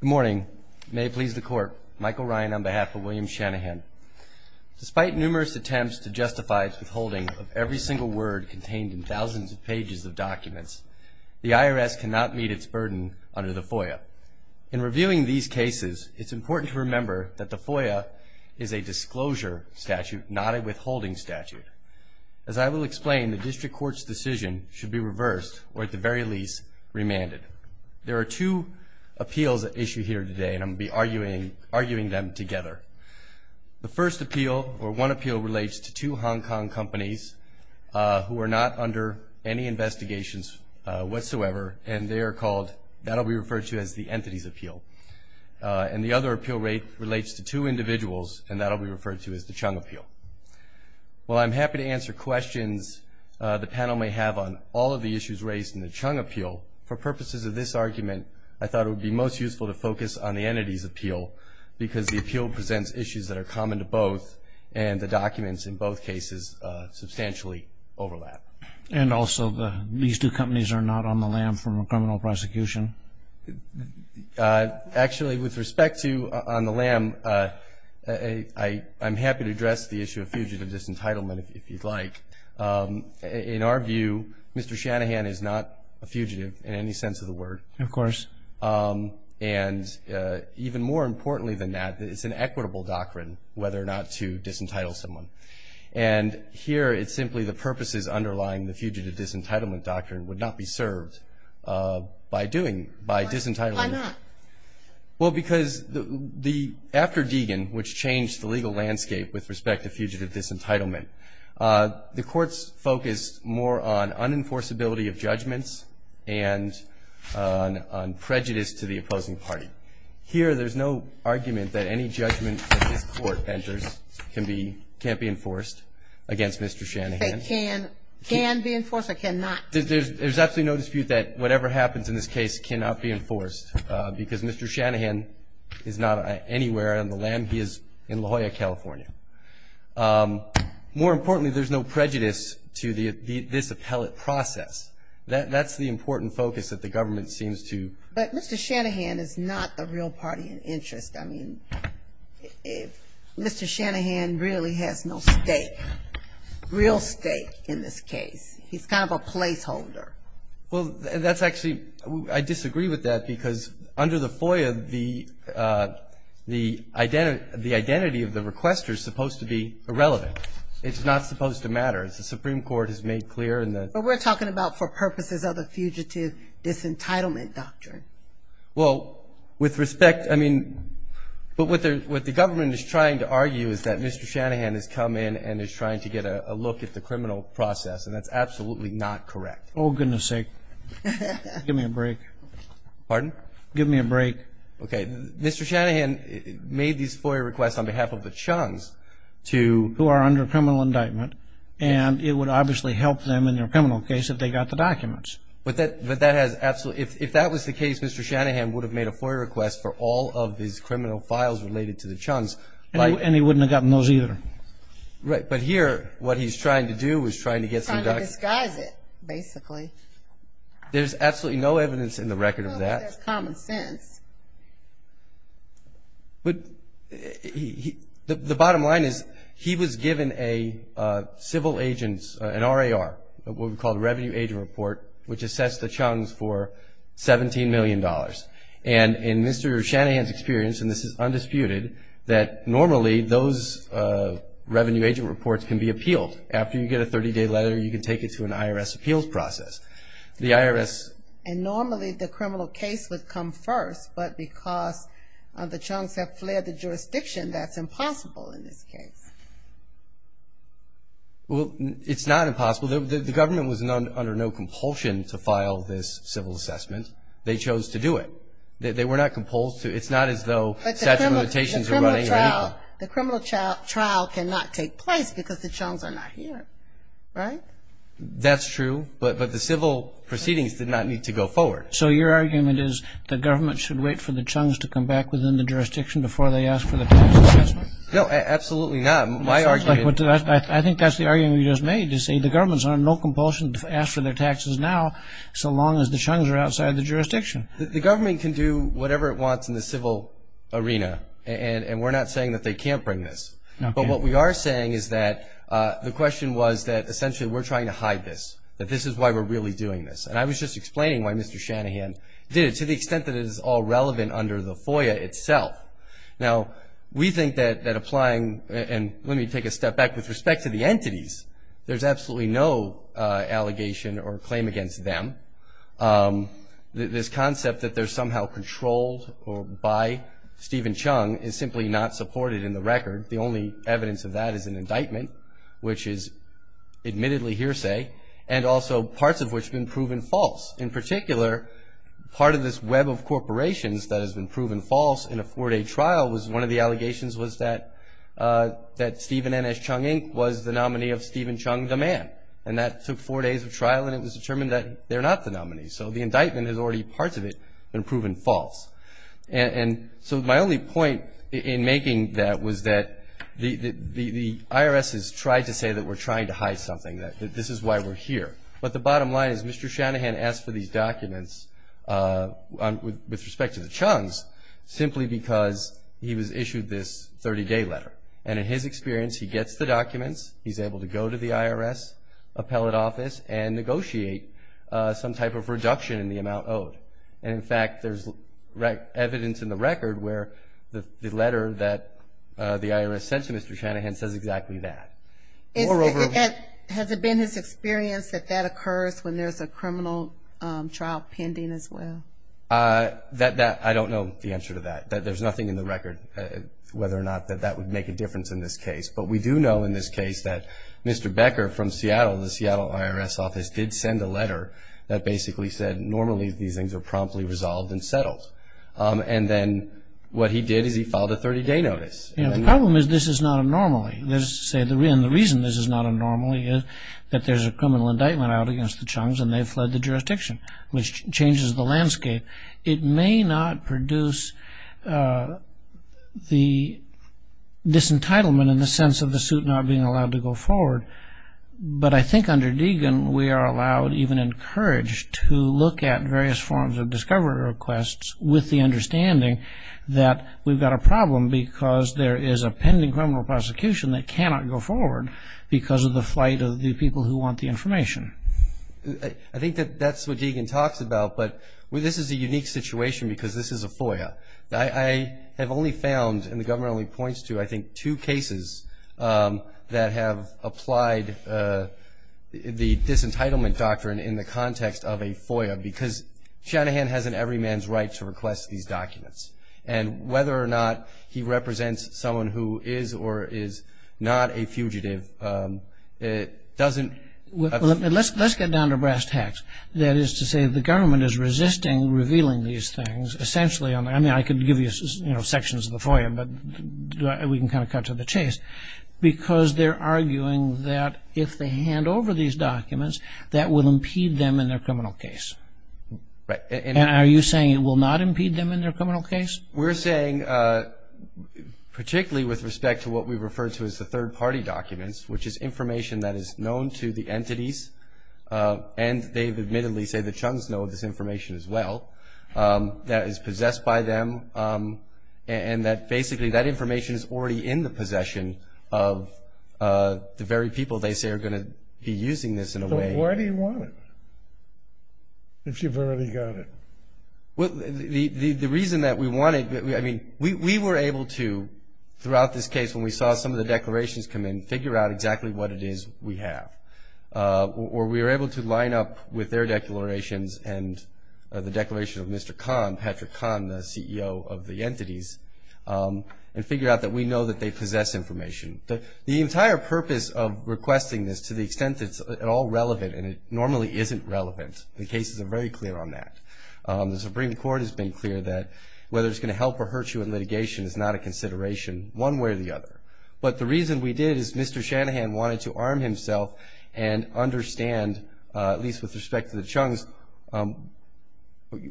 Good morning. May it please the Court, Michael Ryan on behalf of William Shannahan. Despite numerous attempts to justify the withholding of every single word contained in thousands of pages of documents, the IRS cannot meet its burden under the FOIA. In reviewing these cases, it's important to remember that the FOIA is a disclosure statute, not a withholding statute. As I will explain, the District Court's decision should be reversed, or at the very least, remanded. There are two appeals at issue here today, and I'm going to be arguing them together. The first appeal, or one appeal, relates to two Hong Kong companies who are not under any investigations whatsoever, and they are called, that will be referred to as the Entities Appeal. And the other appeal relates to two individuals, and that will be referred to as the Chung Appeal. While I'm happy to answer questions the panel may have on all of the issues raised in the Chung Appeal, for purposes of this argument, I thought it would be most useful to focus on the Entities Appeal, because the appeal presents issues that are common to both, and the documents in both cases substantially overlap. And also, these two companies are not on the lam for criminal prosecution? Actually, with respect to on the lam, I'm happy to address the issue of fugitive disentitlement, if you'd like. In our view, Mr. Shanahan is not a fugitive in any sense of the word. Of course. And even more importantly than that, it's an equitable doctrine whether or not to disentitle someone. And here, it's simply the purposes underlying the fugitive disentitlement doctrine would not be served by doing, by disentitling. Why not? Well, because after Deegan, which changed the legal landscape with respect to fugitive disentitlement, the courts focused more on unenforceability of judgments and on prejudice to the opposing party. Here, there's no argument that any judgment that this Court enters can be, can't be enforced against Mr. Shanahan. They can. Can be enforced or cannot. There's absolutely no dispute that whatever happens in this case cannot be enforced, because Mr. Shanahan is not anywhere on the lam. He is in La Jolla, California. More importantly, there's no prejudice to this appellate process. That's the important focus that the government seems to. But Mr. Shanahan is not a real party in interest. I mean, Mr. Shanahan really has no stake, real stake in this case. He's kind of a placeholder. Well, that's actually, I disagree with that, because under the FOIA, the, the identity of the requester is supposed to be irrelevant. It's not supposed to matter. The Supreme Court has made clear in the. But we're talking about for purposes of the fugitive disentitlement doctrine. Well, with respect, I mean, but what the government is trying to argue is that Mr. Shanahan has come in and is trying to get a look at the criminal process, and that's absolutely not correct. Oh, goodness sake. Give me a break. Pardon? Give me a break. Okay. Mr. Shanahan made these FOIA requests on behalf of the Chung's to. Who are under criminal indictment, and it would obviously help them in their criminal case if they got the documents. But that has absolutely. If that was the case, Mr. Shanahan would have made a FOIA request for all of his criminal files related to the Chung's. And he wouldn't have gotten those either. Right. But here, what he's trying to do is trying to get some. Trying to disguise it, basically. There's absolutely no evidence in the record of that. Well, there's common sense. But the bottom line is he was given a civil agent's, an RAR, what we call a revenue agent report, which assess the Chung's for $17 million. And in Mr. Shanahan's experience, and this is undisputed, that normally those revenue agent reports can be appealed. After you get a 30-day letter, you can take it to an IRS appeals process. The IRS. And normally the criminal case would come first, but because the Chung's have fled the jurisdiction, that's impossible in this case. Well, it's not impossible. The government was under no compulsion to file this civil assessment. They chose to do it. They were not composed to. It's not as though statute of limitations are running. The criminal trial cannot take place because the Chung's are not here. Right? That's true. But the civil proceedings did not need to go forward. So your argument is the government should wait for the Chung's to come back within the jurisdiction before they ask for the tax assessment? No, absolutely not. I think that's the argument you just made, to say the government's under no compulsion to ask for their taxes now so long as the Chung's are outside the jurisdiction. The government can do whatever it wants in the civil arena, and we're not saying that they can't bring this. But what we are saying is that the question was that essentially we're trying to hide this, that this is why we're really doing this. And I was just explaining why Mr. Shanahan did it, to the extent that it is all relevant under the FOIA itself. Now, we think that applying, and let me take a step back. With respect to the entities, there's absolutely no allegation or claim against them. This concept that they're somehow controlled by Stephen Chung is simply not supported in the record. The only evidence of that is an indictment, which is admittedly hearsay, and also parts of which have been proven false. In particular, part of this web of corporations that has been proven false in a four-day trial was one of the allegations was that Stephen N.S. Chung, Inc. was the nominee of Stephen Chung, the man. And that took four days of trial, and it was determined that they're not the nominee. So the indictment has already, parts of it, been proven false. And so my only point in making that was that the IRS has tried to say that we're trying to hide something, that this is why we're here. But the bottom line is Mr. Shanahan asked for these documents, with respect to the Chung's, simply because he was issued this 30-day letter. And in his experience, he gets the documents, he's able to go to the IRS appellate office and negotiate some type of reduction in the amount owed. And, in fact, there's evidence in the record where the letter that the IRS sent to Mr. Shanahan says exactly that. Has it been his experience that that occurs when there's a criminal trial pending as well? I don't know the answer to that. There's nothing in the record whether or not that that would make a difference in this case. But we do know in this case that Mr. Becker from Seattle, the Seattle IRS office, did send a letter that basically said normally these things are promptly resolved and settled. And then what he did is he filed a 30-day notice. The problem is this is not a normally. And the reason this is not a normally is that there's a criminal indictment out against the Chung's and they've fled the jurisdiction, which changes the landscape. It may not produce the disentitlement in the sense of the suit not being allowed to go forward. But I think under Deegan we are allowed, even encouraged, to look at various forms of discovery requests with the understanding that we've got a problem because there is a pending criminal prosecution that cannot go forward because of the flight of the people who want the information. I think that that's what Deegan talks about. I have only found, and the government only points to, I think, two cases that have applied the disentitlement doctrine in the context of a FOIA because Shanahan has an everyman's right to request these documents. And whether or not he represents someone who is or is not a fugitive doesn't. Let's get down to brass tacks. That is to say the government is resisting revealing these things. Essentially, I mean, I could give you sections of the FOIA, but we can kind of cut to the chase, because they're arguing that if they hand over these documents, that will impede them in their criminal case. And are you saying it will not impede them in their criminal case? We're saying, particularly with respect to what we refer to as the third-party documents, which is information that is known to the entities, and they've admittedly said the Chung's know this information as well, that is possessed by them, and that basically that information is already in the possession of the very people they say are going to be using this in a way. So why do you want it, if you've already got it? The reason that we want it, I mean, we were able to, throughout this case, when we saw some of the declarations come in, figure out exactly what it is we have. Or we were able to line up with their declarations and the declaration of Mr. Kahn, Patrick Kahn, the CEO of the entities, and figure out that we know that they possess information. The entire purpose of requesting this, to the extent that it's at all relevant, and it normally isn't relevant, the cases are very clear on that. The Supreme Court has been clear that whether it's going to help or hurt you in litigation is not a consideration, one way or the other. But the reason we did is Mr. Shanahan wanted to arm himself and understand, at least with respect to the Chung's,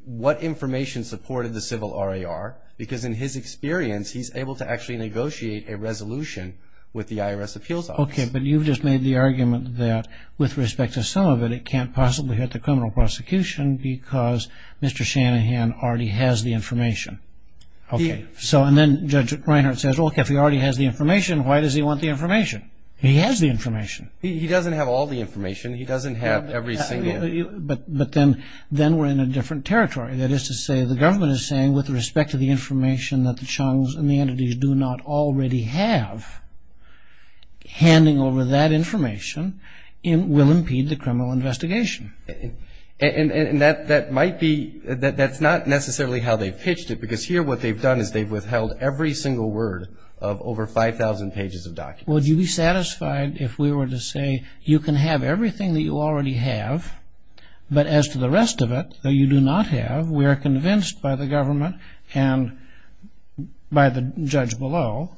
what information supported the civil RAR. Because in his experience, he's able to actually negotiate a resolution with the IRS Appeals Office. Okay, but you've just made the argument that with respect to some of it, it can't possibly hurt the criminal prosecution because Mr. Shanahan already has the information. Okay, so and then Judge Reinhart says, look, if he already has the information, why does he want the information? He has the information. He doesn't have all the information. He doesn't have every single. But then we're in a different territory. That is to say, the government is saying, with respect to the information that the Chung's and the entities do not already have, handing over that information will impede the criminal investigation. And that might be, that's not necessarily how they've pitched it, because here what they've done is they've withheld every single word of over 5,000 pages of documents. Would you be satisfied if we were to say, you can have everything that you already have, but as to the rest of it that you do not have, we are convinced by the government and by the judge below,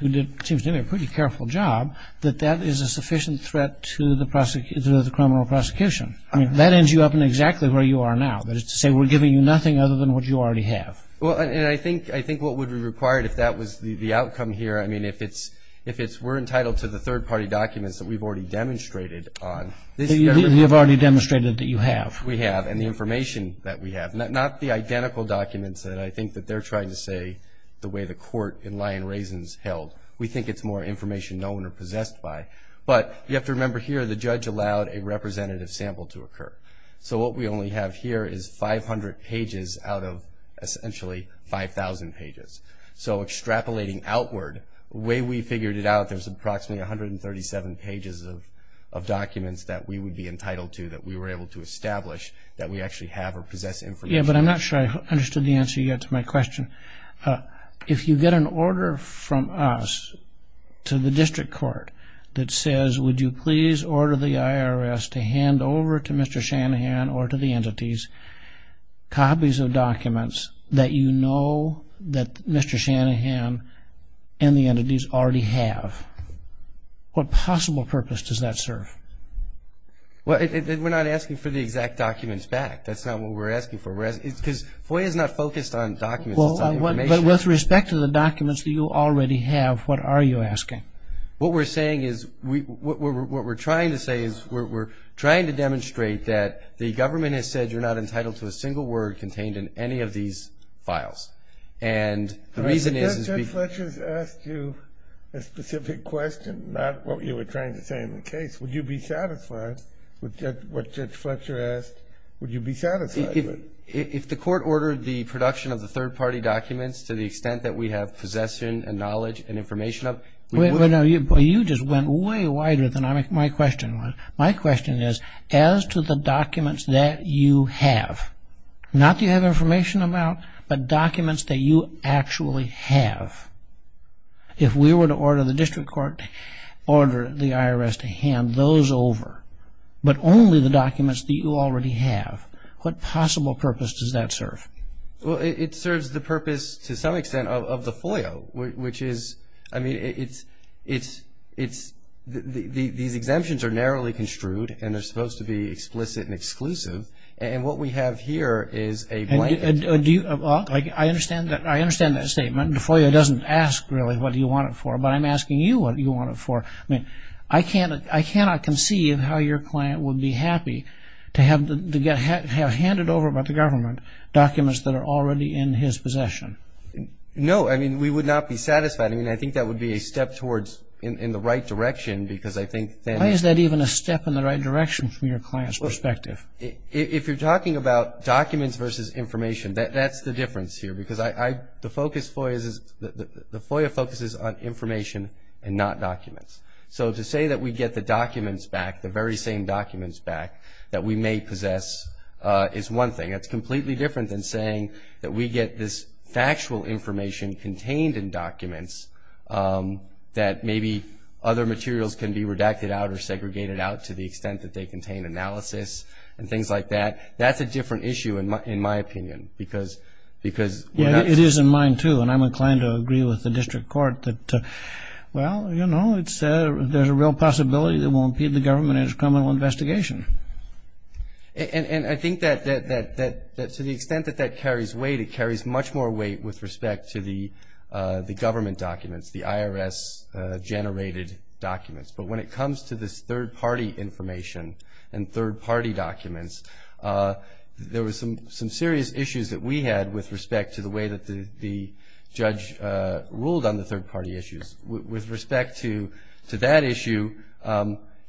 who seems to do a pretty careful job, that that is a sufficient threat to the criminal prosecution. I mean, that ends you up in exactly where you are now. That is to say, we're giving you nothing other than what you already have. Well, and I think what would be required if that was the outcome here, I mean, if it's we're entitled to the third-party documents that we've already demonstrated on. You've already demonstrated that you have. We have, and the information that we have. Not the identical documents that I think that they're trying to say the way the court in Lyon Raisins held. We think it's more information no one are possessed by. But you have to remember here the judge allowed a representative sample to occur. So what we only have here is 500 pages out of essentially 5,000 pages. So extrapolating outward, the way we figured it out, there's approximately 137 pages of documents that we would be entitled to, that we were able to establish that we actually have or possess information. Yeah, but I'm not sure I understood the answer yet to my question. If you get an order from us to the district court that says, would you please order the IRS to hand over to Mr. Shanahan or to the entities copies of documents that you know that Mr. Shanahan and the entities already have, what possible purpose does that serve? Well, we're not asking for the exact documents back. That's not what we're asking for. Because FOIA is not focused on documents, it's on information. But with respect to the documents that you already have, what are you asking? What we're saying is, what we're trying to say is, we're trying to demonstrate that the government has said you're not entitled to a single word contained in any of these files. And the reason is... But Judge Fletcher has asked you a specific question, not what you were trying to say in the case. Would you be satisfied with what Judge Fletcher asked? Would you be satisfied? If the court ordered the production of the third-party documents to the extent that we have possession and knowledge and information of... But you just went way wider than my question was. My question is, as to the documents that you have, not that you have information about, but documents that you actually have, if we were to order the district court to order the IRS to hand those over, but only the documents that you already have, what possible purpose does that serve? Well, it serves the purpose, to some extent, of the FOIA, which is... I mean, these exemptions are narrowly construed and they're supposed to be explicit and exclusive. And what we have here is a blanket... I understand that statement. The FOIA doesn't ask, really, what do you want it for, but I'm asking you what you want it for. I mean, I cannot conceive how your client would be happy to have handed over by the government documents that are already in his possession. No, I mean, we would not be satisfied. I mean, I think that would be a step towards in the right direction because I think that... Why is that even a step in the right direction from your client's perspective? If you're talking about documents versus information, that's the difference here because the FOIA focuses on information and not documents. So to say that we get the documents back, the very same documents back, that we may possess is one thing. It's completely different than saying that we get this factual information contained in documents that maybe other materials can be redacted out or segregated out to the extent that they contain analysis and things like that. That's a different issue, in my opinion, because... Yeah, it is in mine, too, and I'm inclined to agree with the district court that, well, you know, there's a real possibility that it will impede the government in its criminal investigation. And I think that to the extent that that carries weight, it carries much more weight with respect to the government documents, the IRS-generated documents. But when it comes to this third-party information and third-party documents, there were some serious issues that we had with respect to the way that the judge ruled on the third-party issues. With respect to that issue,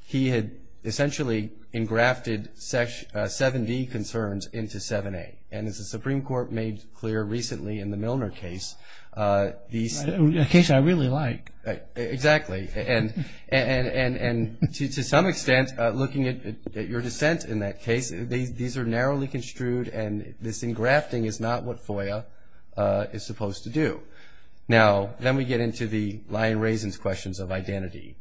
he had essentially engrafted 7D concerns into 7A. And as the Supreme Court made clear recently in the Milner case, these... A case I really like. Exactly. And to some extent, looking at your dissent in that case, these are narrowly construed, and this engrafting is not what FOIA is supposed to do. Now, then we get into the lye and raisins questions of identity,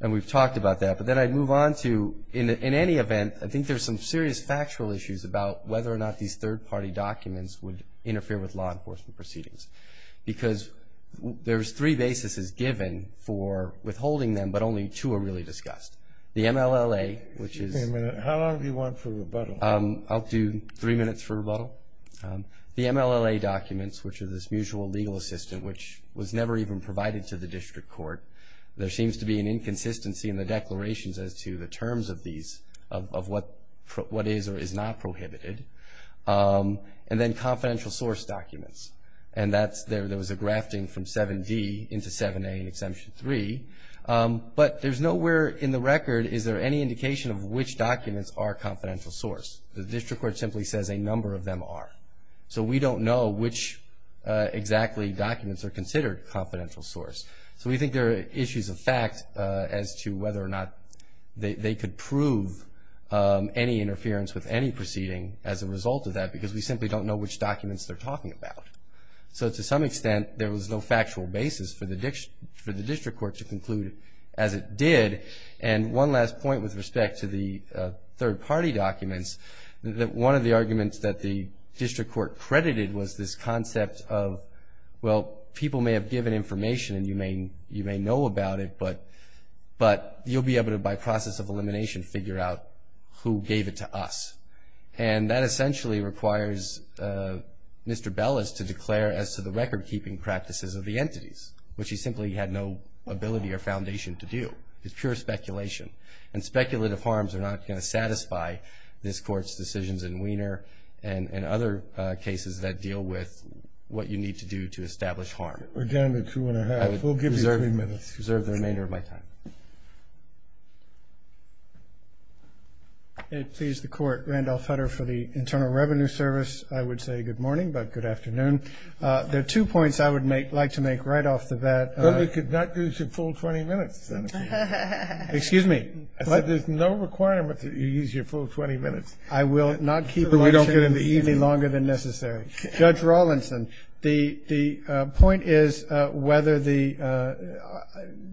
and we've talked about that. But then I'd move on to, in any event, I think there's some serious factual issues about whether or not these third-party documents would interfere with law enforcement proceedings, because there's three bases as given for withholding them, but only two are really discussed. The MLLA, which is... Wait a minute. How long do you want for rebuttal? I'll do three minutes for rebuttal. The MLLA documents, which are this mutual legal assistant, which was never even provided to the district court. There seems to be an inconsistency in the declarations as to the terms of these, of what is or is not prohibited. And then confidential source documents, and there was a grafting from 7D into 7A in Exemption 3. But there's nowhere in the record is there any indication of which documents are confidential source. The district court simply says a number of them are. So we don't know which exactly documents are considered confidential source. So we think there are issues of fact as to whether or not they could prove any interference with any proceeding as a result of that, because we simply don't know which documents they're talking about. So to some extent, there was no factual basis for the district court to conclude as it did. And one last point with respect to the third-party documents, that one of the arguments that the district court credited was this concept of, well, people may have given information and you may know about it, but you'll be able to, by process of elimination, figure out who gave it to us. And that essentially requires Mr. Bellis to declare as to the record-keeping practices of the entities, which he simply had no ability or foundation to do. It's pure speculation. And speculative harms are not going to satisfy this Court's decisions in Wiener and other cases that deal with what you need to do to establish harm. We're down to two-and-a-half. We'll give you three minutes. I will reserve the remainder of my time. May it please the Court, Randolph Hutter for the Internal Revenue Service. I would say good morning, but good afternoon. There are two points I would like to make right off the bat. But we could not use your full 20 minutes, Senator. Excuse me. But there's no requirement that you use your full 20 minutes. I will not keep a lecture in the evening longer than necessary. Judge Rawlinson, the point is whether the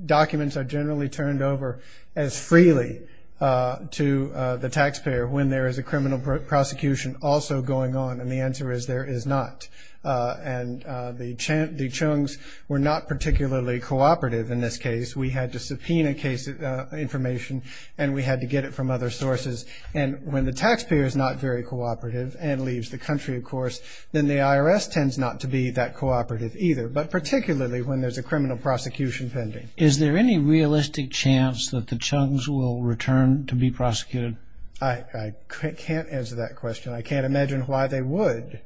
documents are generally turned over as freely to the taxpayer when there is a criminal prosecution also going on. And the answer is there is not. And the Chung's were not particularly cooperative in this case. We had to subpoena information, and we had to get it from other sources. And when the taxpayer is not very cooperative and leaves the country, of course, then the IRS tends not to be that cooperative either, but particularly when there's a criminal prosecution pending. Is there any realistic chance that the Chung's will return to be prosecuted? I can't answer that question. I can't imagine why they would,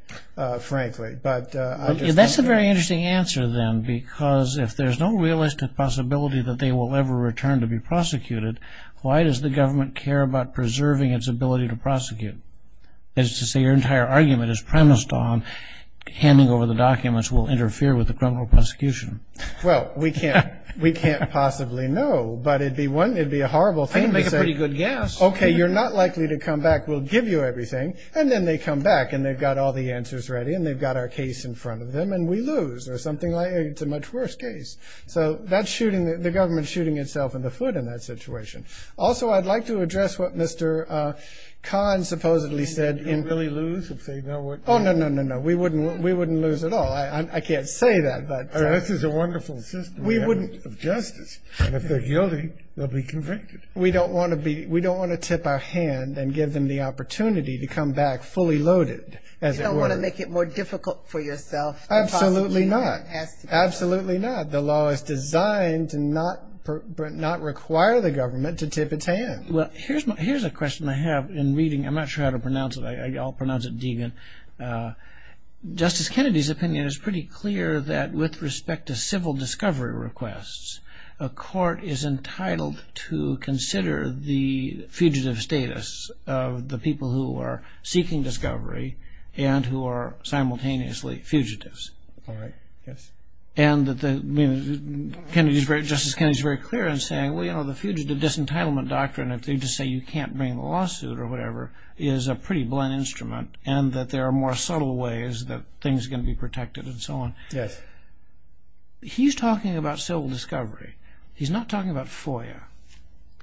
frankly. That's a very interesting answer, then, because if there's no realistic possibility that they will ever return to be prosecuted, why does the government care about preserving its ability to prosecute? That is to say, your entire argument is premised on handing over the documents will interfere with the criminal prosecution. Well, we can't possibly know, but it would be a horrible thing to say. I can make a pretty good guess. Okay, you're not likely to come back. We'll give you everything. And then they come back, and they've got all the answers ready, and they've got our case in front of them, and we lose or something like that. It's a much worse case. So the government is shooting itself in the foot in that situation. Also, I'd like to address what Mr. Kahn supposedly said. You don't really lose if they know what you're doing? Oh, no, no, no, no. We wouldn't lose at all. I can't say that. This is a wonderful system of justice, and if they're guilty, they'll be convicted. We don't want to tip our hand and give them the opportunity to come back fully loaded, as it were. You don't want to make it more difficult for yourself to prosecute. Absolutely not. Absolutely not. The law is designed to not require the government to tip its hand. Here's a question I have in reading. I'm not sure how to pronounce it. I'll pronounce it Deegan. Justice Kennedy's opinion is pretty clear that with respect to civil discovery requests, a court is entitled to consider the fugitive status of the people who are seeking discovery and who are simultaneously fugitives. All right. Yes. Justice Kennedy's very clear in saying, well, you know, the fugitive disentitlement doctrine, if they just say you can't bring a lawsuit or whatever, is a pretty blunt instrument and that there are more subtle ways that things are going to be protected and so on. Yes. He's talking about civil discovery. He's not talking about FOIA.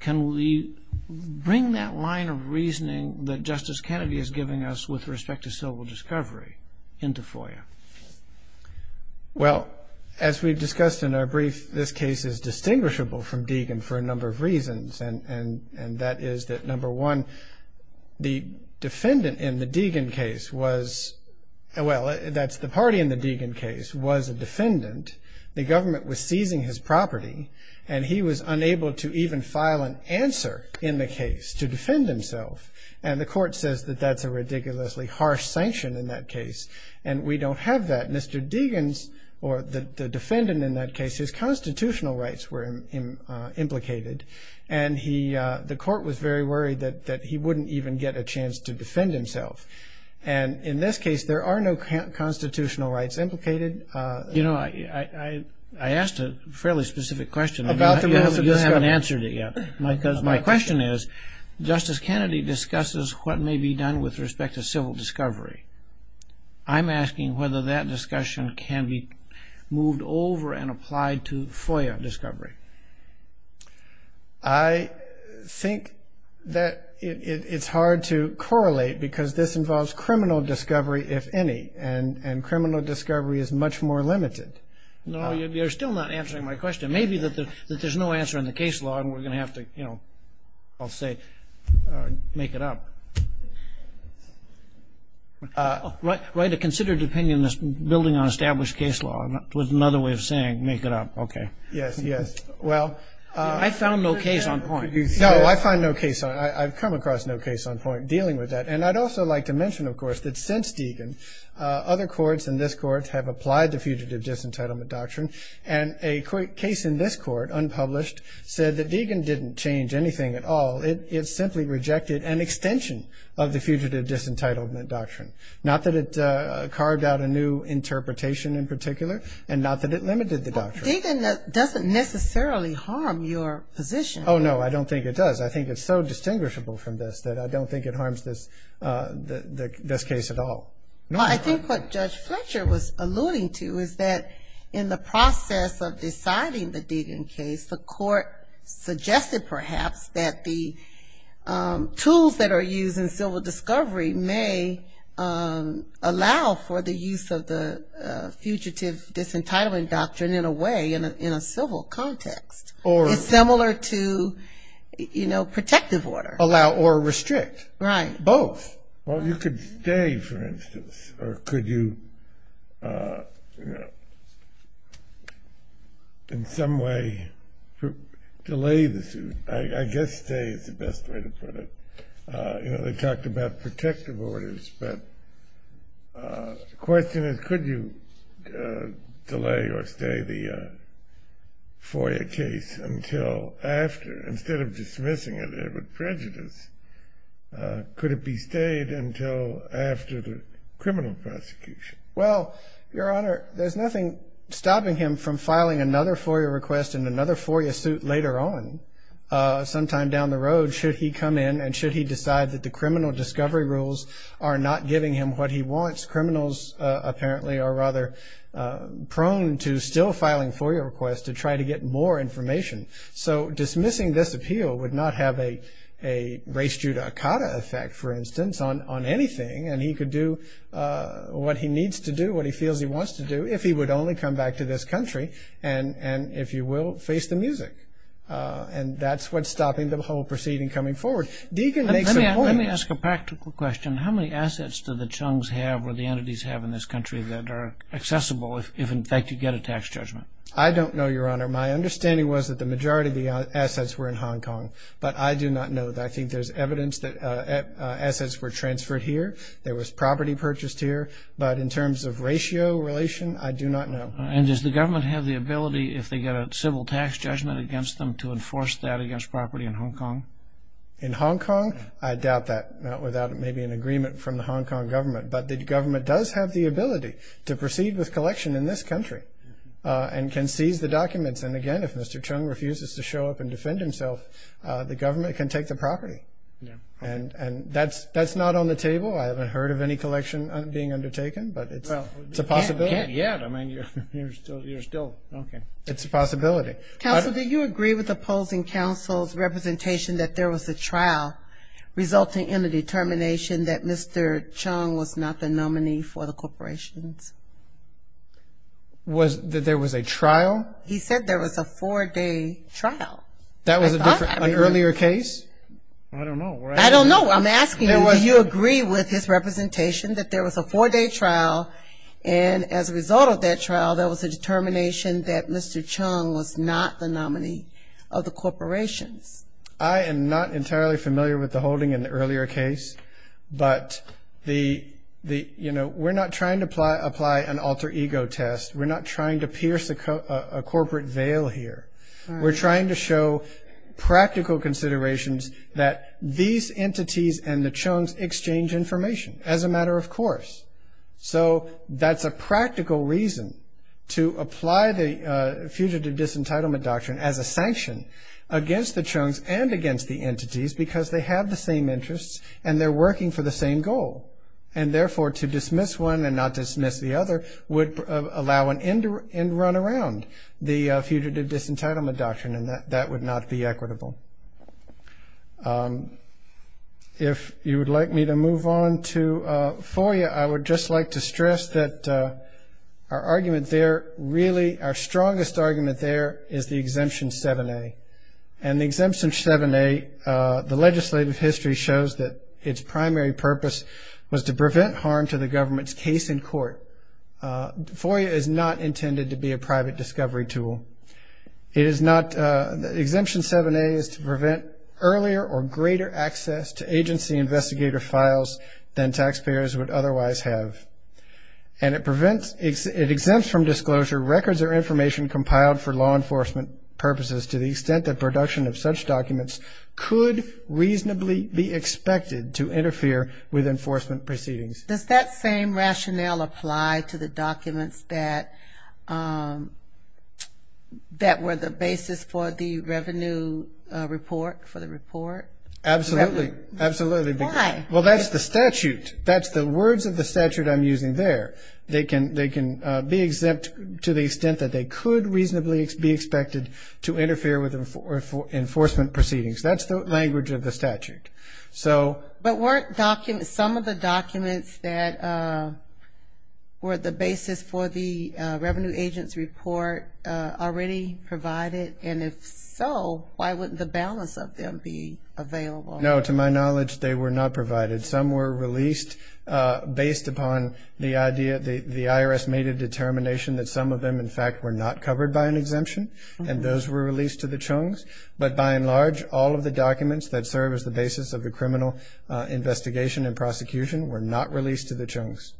Can we bring that line of reasoning that Justice Kennedy is giving us with respect to civil discovery into FOIA? Well, as we've discussed in our brief, this case is distinguishable from Deegan for a number of reasons, and that is that, number one, the defendant in the Deegan case was – well, that's the party in the Deegan case was a defendant. The government was seizing his property, and he was unable to even file an answer in the case to defend himself. And the court says that that's a ridiculously harsh sanction in that case, and we don't have that. Mr. Deegan's – or the defendant in that case, his constitutional rights were implicated, and he – the court was very worried that he wouldn't even get a chance to defend himself. And in this case, there are no constitutional rights implicated. You know, I asked a fairly specific question. About the – You haven't answered it yet. My question is, Justice Kennedy discusses what may be done with respect to civil discovery. I'm asking whether that discussion can be moved over and applied to FOIA discovery. I think that it's hard to correlate because this involves criminal discovery, if any, and criminal discovery is much more limited. No, you're still not answering my question. Maybe that there's no answer in the case law, and we're going to have to, you know, I'll say make it up. Write a considered opinion that's building on established case law with another way of saying make it up. Okay. Yes, yes. Well – I found no case on point. No, I find no case on – I've come across no case on point dealing with that. And I'd also like to mention, of course, that since Deegan, other courts in this court have applied the Fugitive Disentitlement Doctrine. And a case in this court, unpublished, said that Deegan didn't change anything at all. It simply rejected an extension of the Fugitive Disentitlement Doctrine. Not that it carved out a new interpretation in particular, and not that it limited the doctrine. Well, Deegan doesn't necessarily harm your position. Oh, no, I don't think it does. I think it's so distinguishable from this that I don't think it harms this case at all. No, I think what Judge Fletcher was alluding to is that in the process of deciding the Deegan case, the court suggested perhaps that the tools that are used in civil discovery may allow for the use of the Fugitive Disentitlement Doctrine in a way, in a civil context. Or – Or to, you know, protective order. Allow or restrict. Right. Both. Well, you could stay, for instance, or could you, you know, in some way delay the suit. I guess stay is the best way to put it. You know, they talked about protective orders, but the question is, could you delay or stay the FOIA case until after? Instead of dismissing it, it would prejudice. Could it be stayed until after the criminal prosecution? Well, Your Honor, there's nothing stopping him from filing another FOIA request and another FOIA suit later on, sometime down the road, should he come in and should he decide that the criminal discovery rules are not giving him what he wants. Criminals apparently are rather prone to still filing FOIA requests to try to get more information. So dismissing this appeal would not have a race judicata effect, for instance, on anything. And he could do what he needs to do, what he feels he wants to do, if he would only come back to this country and, if you will, face the music. And that's what's stopping the whole proceeding coming forward. Deegan makes a point. Let me ask a practical question. How many assets do the Chung's have or the entities have in this country that are accessible, if in fact you get a tax judgment? I don't know, Your Honor. My understanding was that the majority of the assets were in Hong Kong. But I do not know. I think there's evidence that assets were transferred here. There was property purchased here. But in terms of ratio relation, I do not know. And does the government have the ability, if they get a civil tax judgment against them, to enforce that against property in Hong Kong? In Hong Kong? I doubt that. Without maybe an agreement from the Hong Kong government. But the government does have the ability to proceed with collection in this country and can seize the documents. And, again, if Mr. Chung refuses to show up and defend himself, the government can take the property. And that's not on the table. I haven't heard of any collection being undertaken, but it's a possibility. Well, you can't yet. I mean, you're still, okay. It's a possibility. Counsel, do you agree with opposing counsel's representation that there was a trial resulting in the determination that Mr. Chung was not the nominee for the corporations? Was that there was a trial? He said there was a four-day trial. That was an earlier case? I don't know. I don't know. I'm asking you, do you agree with his representation that there was a four-day trial, and as a result of that trial, there was a determination that Mr. Chung was not the nominee of the corporations? I am not entirely familiar with the holding in the earlier case. But, you know, we're not trying to apply an alter ego test. We're not trying to pierce a corporate veil here. We're trying to show practical considerations that these entities and the Chung's exchange information as a matter of course. So that's a practical reason to apply the Fugitive Disentitlement Doctrine as a sanction against the Chung's and against the entities because they have the same interests and they're working for the same goal. And therefore, to dismiss one and not dismiss the other would allow an end run around the Fugitive Disentitlement Doctrine, and that would not be equitable. If you would like me to move on to FOIA, I would just like to stress that our argument there really, our strongest argument there is the Exemption 7A. And the Exemption 7A, the legislative history shows that its primary purpose was to prevent harm to the government's case in court. FOIA is not intended to be a private discovery tool. It is not, the Exemption 7A is to prevent earlier or greater access to agency investigator files than taxpayers would otherwise have. And it prevents, it exempts from disclosure records or information compiled for law enforcement purposes to the extent that production of such documents could reasonably be expected to interfere with enforcement proceedings. Does that same rationale apply to the documents that were the basis for the revenue report, for the report? Absolutely. Absolutely. Why? Well, that's the statute. That's the words of the statute I'm using there. They can be exempt to the extent that they could reasonably be expected to interfere with enforcement proceedings. That's the language of the statute. But weren't some of the documents that were the basis for the Revenue Agents Report already provided? And if so, why wouldn't the balance of them be available? No, to my knowledge, they were not provided. Some were released based upon the idea, the IRS made a determination that some of them, in fact, were not covered by an exemption, and those were released to the CHUNGs. But by and large, all of the documents that serve as the basis of the criminal investigation and prosecution were not released to the CHUNGs.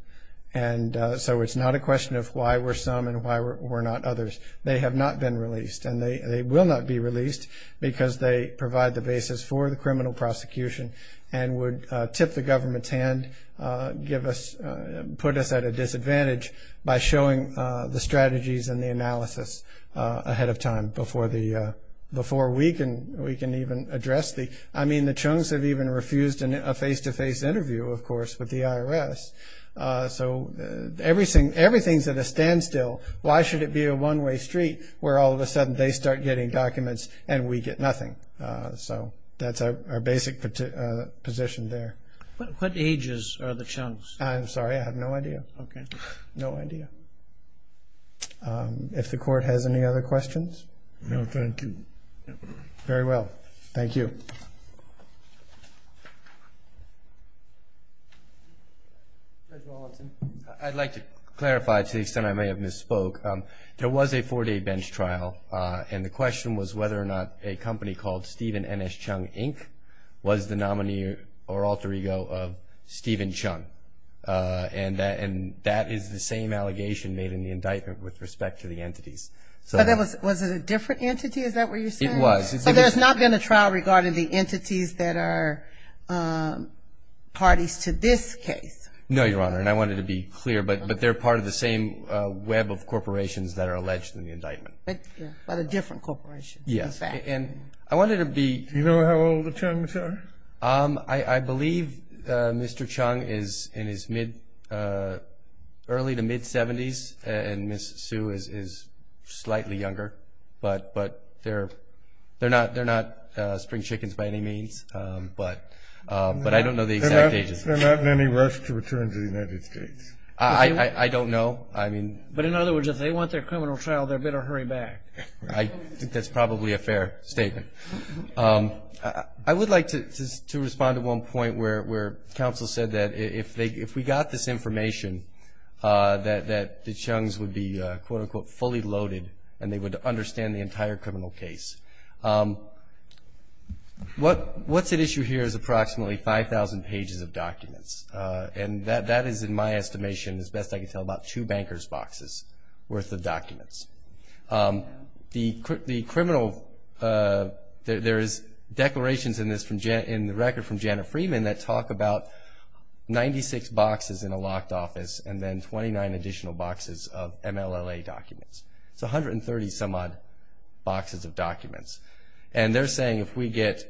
And so it's not a question of why were some and why were not others. They have not been released. And they will not be released because they provide the basis for the criminal prosecution and would tip the government's hand, put us at a disadvantage by showing the strategies and the analysis ahead of time before we can even address the... I mean, the CHUNGs have even refused a face-to-face interview, of course, with the IRS. So everything's at a standstill. Why should it be a one-way street where all of a sudden they start getting documents and we get nothing? So that's our basic position there. What ages are the CHUNGs? I'm sorry, I have no idea. Okay. I have no idea. If the Court has any other questions? No, thank you. Very well. Thank you. Judge Rawlinson. I'd like to clarify, to the extent I may have misspoke, there was a four-day bench trial, and the question was whether or not a company called Stephen N.S. CHUNG, Inc. was the nominee or alter ego of Stephen CHUNG. And that is the same allegation made in the indictment with respect to the entities. Was it a different entity? Is that what you're saying? It was. So there's not been a trial regarding the entities that are parties to this case? No, Your Honor, and I wanted to be clear, but they're part of the same web of corporations that are alleged in the indictment. But a different corporation, in fact. Yes, and I wanted to be... Do you know how old the CHUNGs are? I believe Mr. CHUNG is in his early to mid-70s, and Ms. Sue is slightly younger. But they're not spring chickens by any means. But I don't know the exact ages. They're not in any rush to return to the United States? I don't know. But in other words, if they want their criminal trial, they'd better hurry back. I think that's probably a fair statement. I would like to respond to one point where counsel said that if we got this information, that the CHUNGs would be, quote, unquote, fully loaded and they would understand the entire criminal case. What's at issue here is approximately 5,000 pages of documents. And that is, in my estimation, as best I can tell, about two banker's boxes worth of documents. The criminal... There's declarations in the record from Janet Freeman that talk about 96 boxes in a locked office and then 29 additional boxes of MLLA documents. It's 130-some-odd boxes of documents. And they're saying if we get,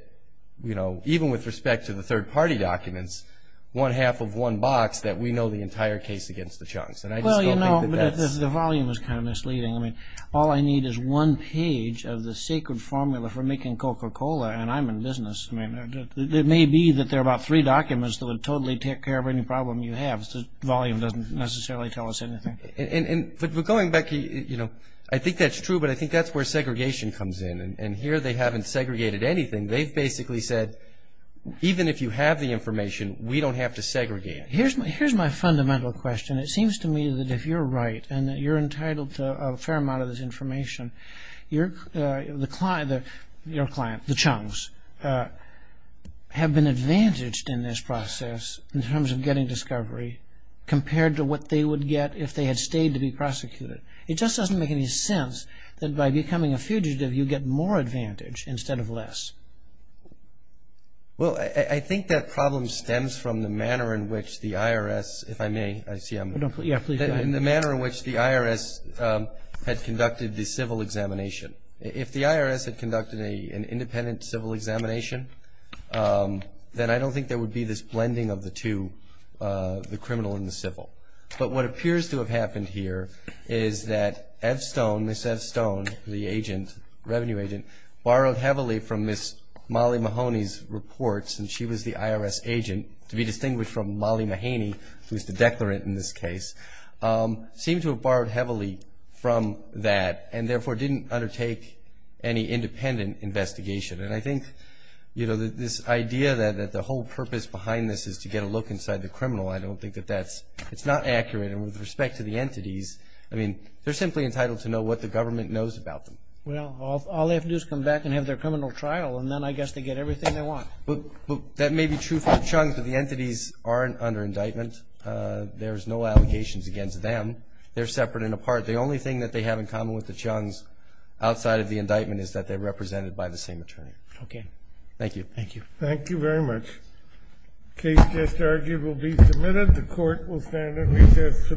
you know, even with respect to the third-party documents, one half of one box, that we know the entire case against the CHUNGs. Well, you know, the volume is kind of misleading. I mean, all I need is one page of the sacred formula for making Coca-Cola and I'm in business. It may be that there are about three documents that would totally take care of any problem you have. The volume doesn't necessarily tell us anything. But going back, you know, I think that's true, but I think that's where segregation comes in. And here they haven't segregated anything. They've basically said, even if you have the information, we don't have to segregate it. Here's my fundamental question. It seems to me that if you're right and that you're entitled to a fair amount of this information, your client, the CHUNGs, have been advantaged in this process in terms of getting discovery compared to what they would get if they had stayed to be prosecuted. It just doesn't make any sense that by becoming a fugitive you get more advantage instead of less. Well, I think that problem stems from the manner in which the IRS, if I may, I see I'm. Yeah, please go ahead. In the manner in which the IRS had conducted the civil examination. If the IRS had conducted an independent civil examination, then I don't think there would be this blending of the two, the criminal and the civil. But what appears to have happened here is that Ev Stone, Miss Ev Stone, the agent, the IRS revenue agent, borrowed heavily from Miss Molly Mahoney's reports, and she was the IRS agent to be distinguished from Molly Mahoney, who's the declarant in this case, seemed to have borrowed heavily from that and therefore didn't undertake any independent investigation. And I think, you know, this idea that the whole purpose behind this is to get a look inside the criminal, I don't think that that's, it's not accurate. And with respect to the entities, I mean, they're simply entitled to know what the government knows about them. Well, all they have to do is come back and have their criminal trial, and then I guess they get everything they want. But that may be true for the Chung's, but the entities aren't under indictment. There's no allegations against them. They're separate and apart. The only thing that they have in common with the Chung's outside of the indictment is that they're represented by the same attorney. Okay. Thank you. Thank you. Thank you very much. Case just argued will be submitted. The court will stand at recess for the day.